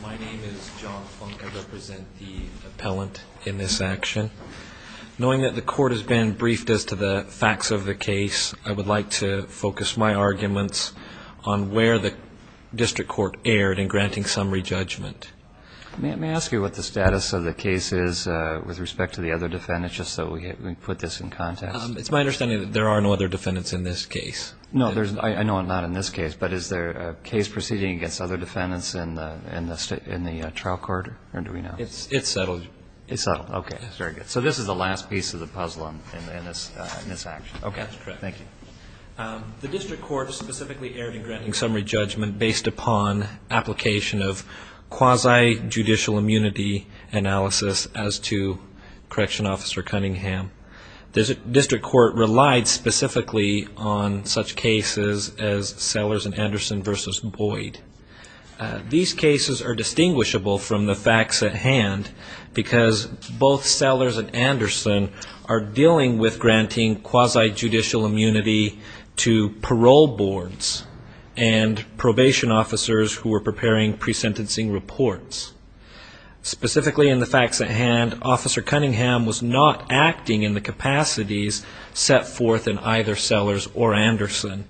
My name is John Funk. I represent the appellant in this action. Knowing that the court has been briefed as to the facts of the case, I would like to focus my arguments on where the district court erred in granting summary judgment. May I ask you what the status of the case is with respect to the other defendants, just so we put this in context? It's my understanding that there are no other defendants in this case. No, I know not in this case, but is there a case proceeding against other defendants in the trial court, or do we know? It's settled. It's settled. Okay, very good. So this is the last piece of the puzzle in this action. Okay, that's correct. Thank you. The district court specifically erred in granting summary judgment based upon application of quasi-judicial immunity analysis as to Correction Officer Cunningham. The district court relied specifically on such cases as Sellers and Anderson v. Boyd. These cases are distinguishable from the facts at hand because both Sellers and Anderson are dealing with granting quasi-judicial immunity to parole boards and probation officers who are preparing pre-sentencing reports. Specifically in the facts at hand, Officer Cunningham was not acting in the capacities set forth in either Sellers or Anderson.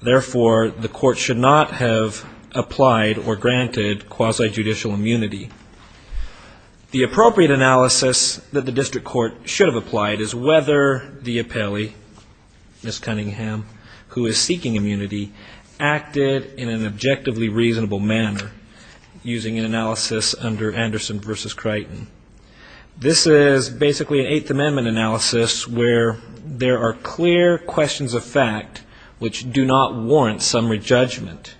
Therefore, the court should not have applied or granted quasi-judicial immunity. The appropriate analysis that the district court should have applied is whether the appellee, Ms. Cunningham, who is seeking immunity, acted in an objectively reasonable manner using an analysis under Anderson v. Crichton. This is basically an Eighth Amendment analysis where there are clear questions of fact which do not warrant summary judgment.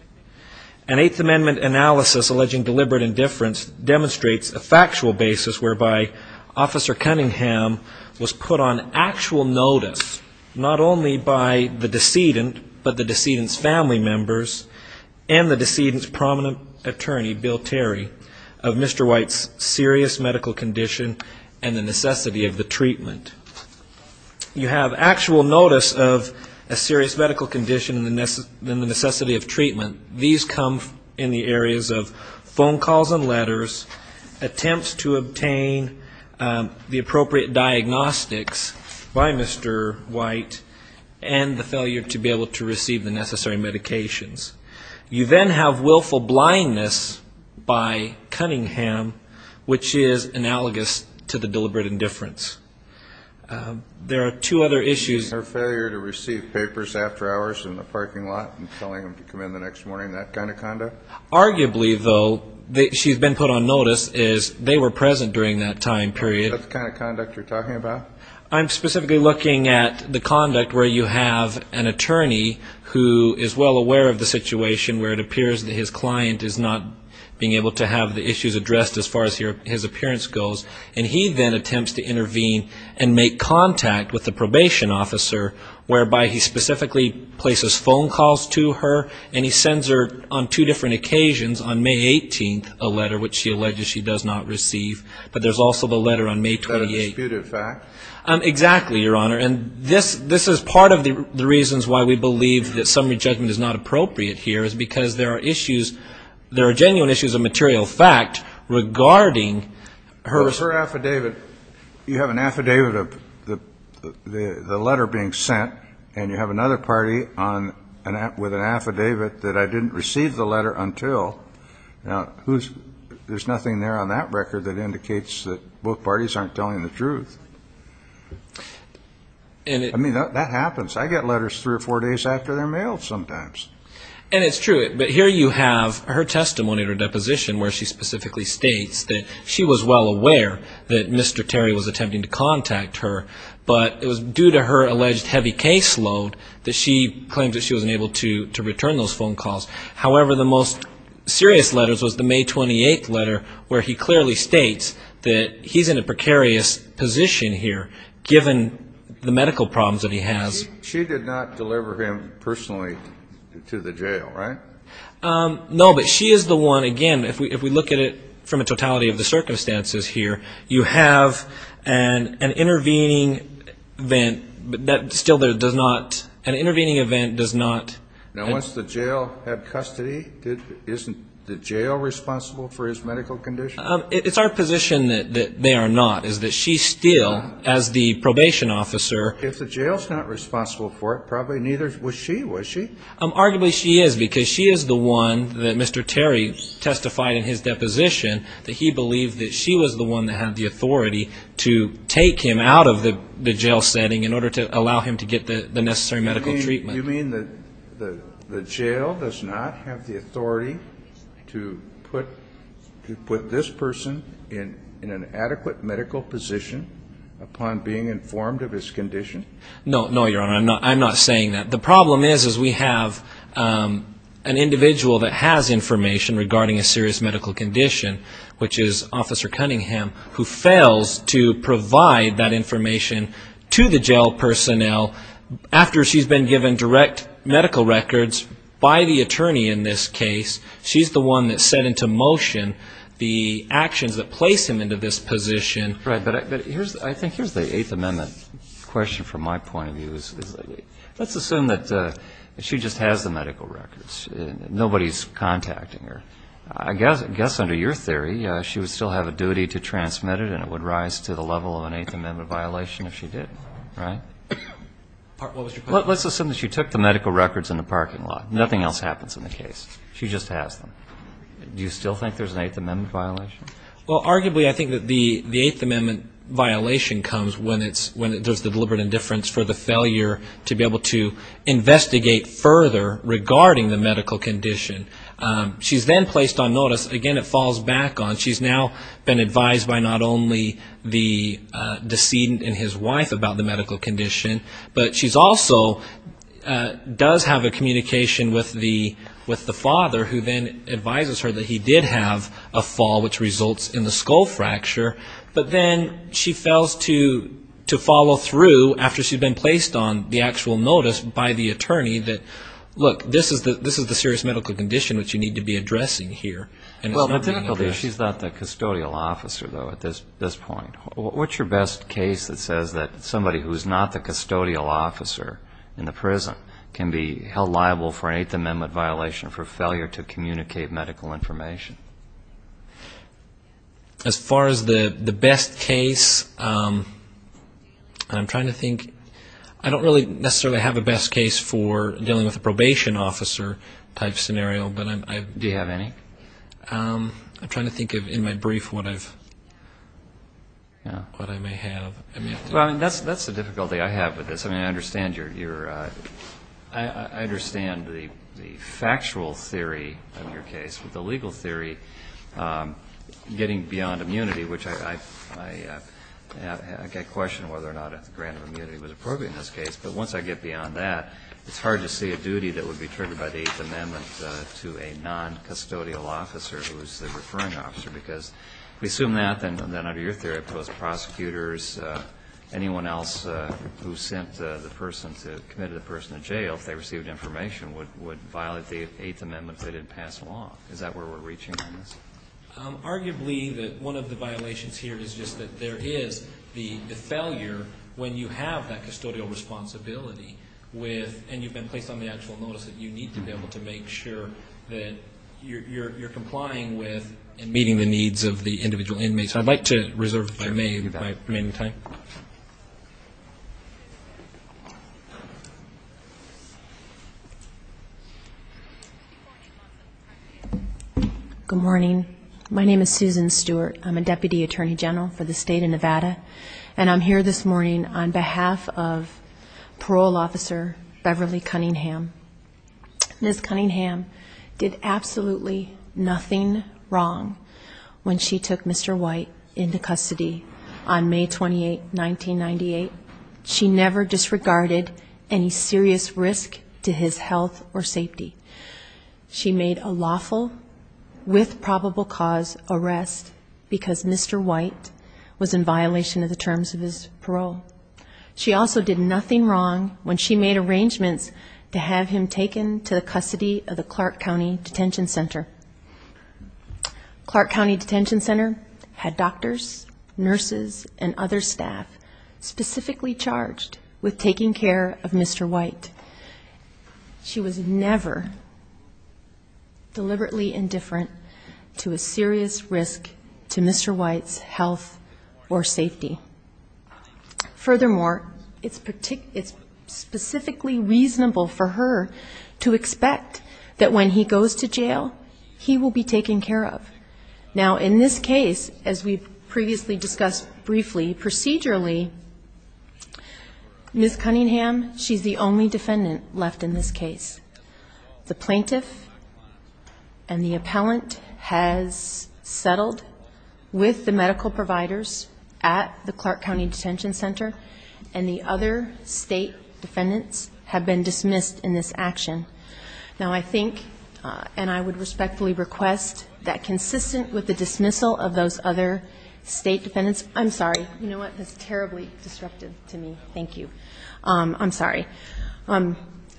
An Eighth Amendment analysis alleging deliberate indifference demonstrates a factual basis whereby Officer Cunningham was put on actual notice, not only by the decedent but the decedent's family members and the decedent's prominent attorney, Bill Terry, of Mr. White's serious medical condition and the necessity of the treatment. You have actual notice of a serious medical condition and the necessity of treatment. These come in the areas of phone calls and letters, attempts to obtain the appropriate diagnostics by Mr. White, and the failure to be able to receive the necessary medications. You then have willful blindness by Cunningham, which is analogous to the deliberate indifference. There are two other issues. Arguably, though, she's been put on notice is they were present during that time period. I'm specifically looking at the conduct where you have an attorney who is well aware of the situation where it appears that his client is not being able to have the issues addressed as far as his appearance goes, and he then attempts to intervene and make contact with the probation officer whereby he specifically places phone calls to her, and he sends her on two different occasions, on May 18th, a letter which she alleges she does not receive. But there's also the letter on May 28th. That's a disputed fact. Exactly, Your Honor. And this is part of the reasons why we believe that summary judgment is not appropriate here, is because there are issues, there are genuine issues of material fact regarding her... Her affidavit, you have an affidavit of the letter being sent, and you have another party with an affidavit that I didn't receive the letter until. Now, there's nothing there on that record that indicates that both parties aren't telling the truth. I mean, that happens. I get letters three or four days after they're mailed sometimes. And it's true, but here you have her testimony or deposition where she specifically states that she was well aware that Mr. Terry was attempting to contact her, but it was due to her alleged heavy caseload that she claimed that she wasn't able to return those phone calls. However, the most serious letters was the May 28th letter where he clearly states that he's in a precarious position here, given the medical problems that he has. She did not deliver him personally to the jail, right? No, but she is the one, again, if we look at it from a totality of the circumstances here, you have an intervening event that still does not, an intervening event does not... Now, once the jail had custody, isn't the jail responsible for his medical condition? It's our position that they are not, is that she still, as the probation officer... If the jail's not responsible for it, probably neither was she, was she? Arguably she is, because she is the one that Mr. Terry testified in his deposition that he believed that she was the one that had the authority to take him out of the jail setting in order to allow him to get the necessary medical treatment. You mean that the jail does not have the authority to put this person in an adequate medical position upon being informed of his condition? No, Your Honor, I'm not saying that. The problem is we have an individual that has information regarding a serious medical condition, which is Officer Cunningham, who fails to provide that information to the jail personnel after she's been given direct medical records by the attorney in this case. She's the one that set into motion the actions that place him into this position. Right, but I think here's the Eighth Amendment question from my point of view. Let's assume that she just has the medical records. Nobody's contacting her. I guess under your theory she would still have a duty to transmit it and it would rise to the level of an Eighth Amendment violation if she did, right? Let's assume that she took the medical records in the parking lot. Nothing else happens in the case. She just has them. Do you still think there's an Eighth Amendment violation? Well, arguably I think that the Eighth Amendment violation comes when there's the deliberate indifference for the failure to be able to investigate further regarding the medical condition. She's then placed on notice. Again, it falls back on. She's now been advised by not only the decedent and his wife about the medical condition, but she also does have a communication with the father who then advises her that he did have a fall which results in the skull fracture, but then she fails to follow through after she's been placed on the actual notice by the attorney that, look, this is the serious medical condition which you need to be addressing here. Well, typically she's not the custodial officer, though, at this point. What's your best case that says that somebody who's not the custodial officer in the prison can be held liable for an Eighth Amendment violation for failure to communicate medical information? As far as the best case, I'm trying to think. I don't really necessarily have a best case for dealing with a probation officer type scenario. Do you have any? I'm trying to think of, in my brief, what I may have. Well, that's the difficulty I have with this. I mean, I understand the factual theory of your case. With the legal theory, getting beyond immunity, which I question whether or not a grant of immunity was appropriate in this case, but once I get beyond that, it's hard to see a duty that would be triggered by the Eighth Amendment to a noncustodial officer who is the referring officer, because if we assume that, then under your theory, post-prosecutors, anyone else who sent the person to commit the person to jail, if they received information, would violate the Eighth Amendment if they didn't pass a law. Is that where we're reaching on this? Arguably, one of the violations here is just that there is the failure, when you have that custodial responsibility, and you've been placed on the actual notice, that you need to be able to make sure that you're complying with and meeting the needs of the individual inmates. I'd like to reserve if I may my remaining time. Good morning. My name is Susan Stewart. I'm a Deputy Attorney General for the State of Nevada, and I'm here this morning on behalf of Parole Officer Beverly Cunningham. Ms. Cunningham did absolutely nothing wrong when she took Mr. White into custody on May 28, 1998. She never disregarded any serious risk to his health or safety. She made a lawful, with probable cause, arrest, because Mr. White was in violation of the terms of his parole. She also did nothing wrong when she made arrangements to have him taken to the custody of the Clark County Detention Center. Clark County Detention Center had doctors, nurses, and other staff specifically charged with taking care of Mr. White. She was never deliberately indifferent to a serious risk to Mr. White's health or safety. Furthermore, it's specifically reasonable for her to expect that when he goes to jail, he will be taken care of. Now, in this case, as we previously discussed briefly, procedurally, Ms. Cunningham, she's the only defendant left in this case. The plaintiff and the appellant has settled with the medical providers at the Clark County Detention Center, and the other state defendants have been dismissed in this action. Now, I think, and I would respectfully request, that consistent with the dismissal of those other state defendants I'm sorry. You know what? That's terribly disruptive to me. Thank you. I'm sorry.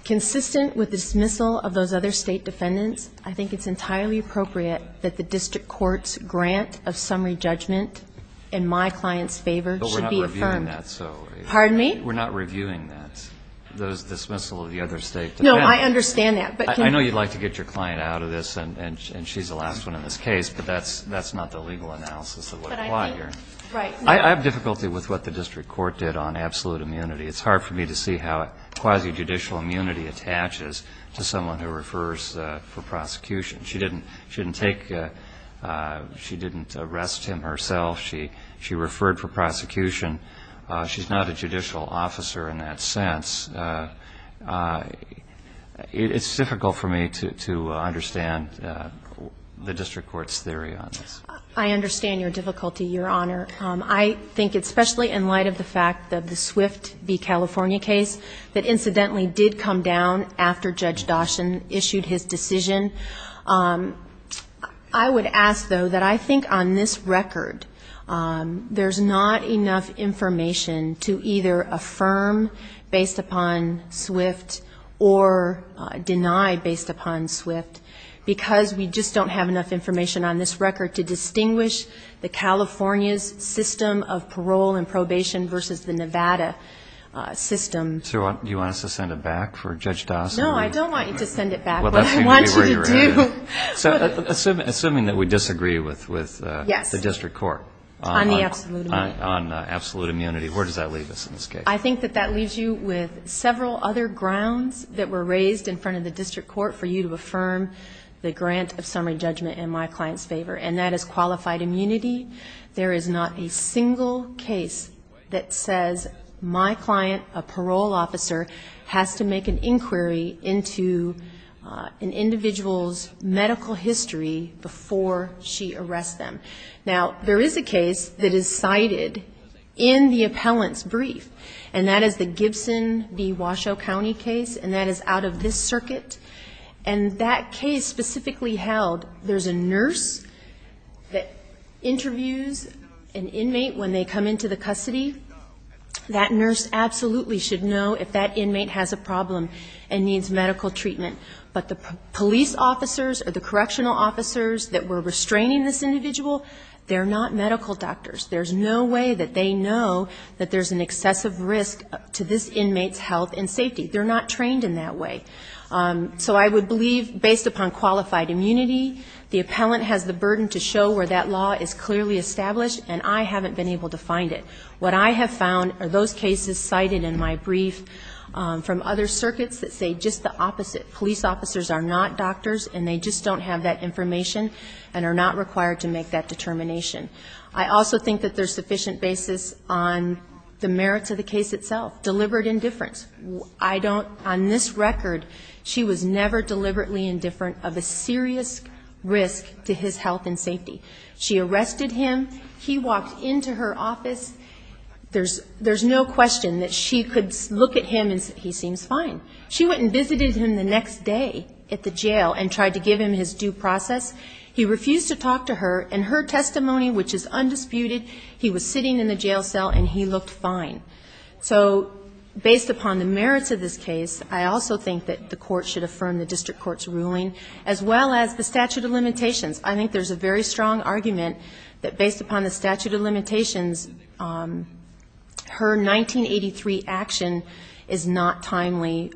Consistent with the dismissal of those other state defendants, I think it's entirely appropriate that the district court's grant of summary judgment in my client's favor should be affirmed. But we're not reviewing that. Pardon me? We're not reviewing that, the dismissal of the other state defendants. No, I understand that. I know you'd like to get your client out of this, and she's the last one in this case, but that's not the legal analysis of what applied here. But I think, right. I have difficulty with what the district court did on absolute immunity. It's hard for me to see how quasi-judicial immunity attaches to someone who refers for prosecution. She didn't take, she didn't arrest him herself. She referred for prosecution. She's not a judicial officer in that sense. It's difficult for me to understand the district court's theory on this. I understand your difficulty, Your Honor. I think especially in light of the fact that the Swift v. California case that incidentally did come down after Judge Doshin issued his decision. I would ask, though, that I think on this record there's not enough information to either affirm based upon Swift or deny based upon Swift, because we just don't have enough information on this record to distinguish the California's system of parole and probation versus the Nevada system. So do you want us to send it back for Judge Doshin? No, I don't want you to send it back. Well, that seems to be where you're at. What I want you to do. Assuming that we disagree with the district court. Yes. On the absolute immunity. Where does that leave us in this case? I think that that leaves you with several other grounds that were raised in front of the district court for you to affirm the grant of summary judgment in my client's favor, and that is qualified immunity. There is not a single case that says my client, a parole officer, has to make an inquiry into an individual's medical history before she arrests them. Now, there is a case that is cited in the appellant's brief, and that is the Gibson v. Washoe County case, and that is out of this circuit. And that case specifically held, there's a nurse that interviews an inmate when they come into the custody. That nurse absolutely should know if that inmate has a problem and needs medical treatment. But the police officers or the correctional officers that were restraining this individual, they're not medical doctors. There's no way that they know that there's an excessive risk to this inmate's health and safety. They're not trained in that way. So I would believe, based upon qualified immunity, the appellant has the burden to show where that law is clearly established, and I haven't been able to find it. What I have found are those cases cited in my brief from other circuits that say just the opposite. Police officers are not doctors, and they just don't have that information and are not required to make that determination. I also think that there's sufficient basis on the merits of the case itself. Deliberate indifference. On this record, she was never deliberately indifferent of a serious risk to his health and safety. She arrested him. He walked into her office. There's no question that she could look at him and say, he seems fine. She went and visited him the next day at the jail and tried to give him his due process. He refused to talk to her, and her testimony, which is undisputed, he was sitting in the jail cell and he looked fine. So based upon the merits of this case, I also think that the Court should affirm the district court's ruling, as well as the statute of limitations. I think there's a very strong argument that based upon the statute of limitations, her 1983 action is not timely,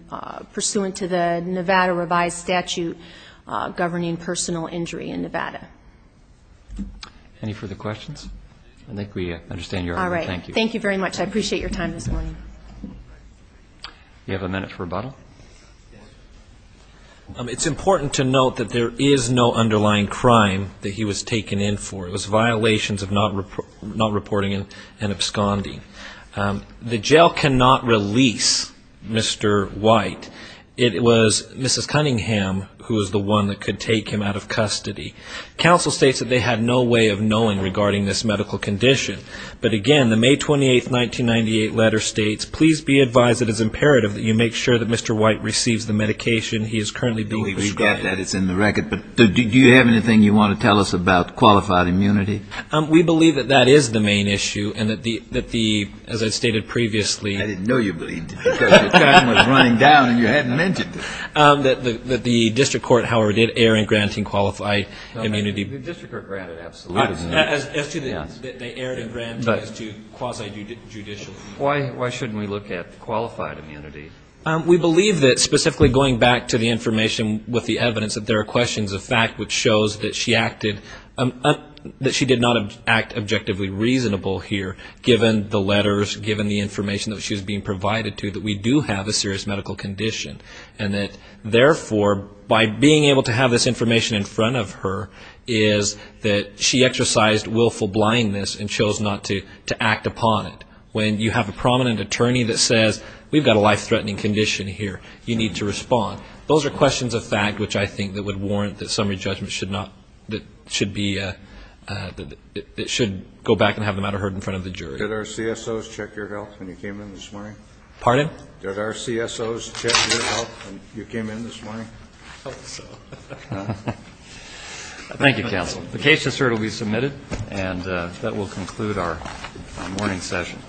pursuant to the Nevada revised statute governing personal injury in Nevada. Any further questions? I think we understand your argument. All right. Thank you. Thank you very much. I appreciate your time this morning. Do you have a minute for rebuttal? It's important to note that there is no underlying crime that he was taken in for. It was violations of not reporting and absconding. The jail cannot release Mr. White. It was Mrs. Cunningham who was the one that could take him out of custody. Counsel states that they had no way of knowing regarding this medical condition. But, again, the May 28, 1998 letter states, please be advised it is imperative that you make sure that Mr. White receives the medication he is currently being prescribed. We read that. It's in the record. All right. But do you have anything you want to tell us about qualified immunity? We believe that that is the main issue and that the, as I stated previously. I didn't know you believed it because your time was running down and you hadn't mentioned it. That the district court, however, did err in granting qualified immunity. The district court granted absolute immunity. As to that they erred in granting as to quasi-judicial. Why shouldn't we look at qualified immunity? We believe that specifically going back to the information with the evidence that there are questions of fact, which shows that she acted, that she did not act objectively reasonable here, given the letters, given the information that she was being provided to, that we do have a serious medical condition. And that, therefore, by being able to have this information in front of her, is that she exercised willful blindness and chose not to act upon it. When you have a prominent attorney that says, we've got a life-threatening condition here. You need to respond. Those are questions of fact which I think that would warrant that summary judgment should not, that should be, that it should go back and have the matter heard in front of the jury. Did our CSOs check your health when you came in this morning? Pardon? Did our CSOs check your health when you came in this morning? I hope so. Thank you, counsel. The case assert will be submitted, and that will conclude our morning session.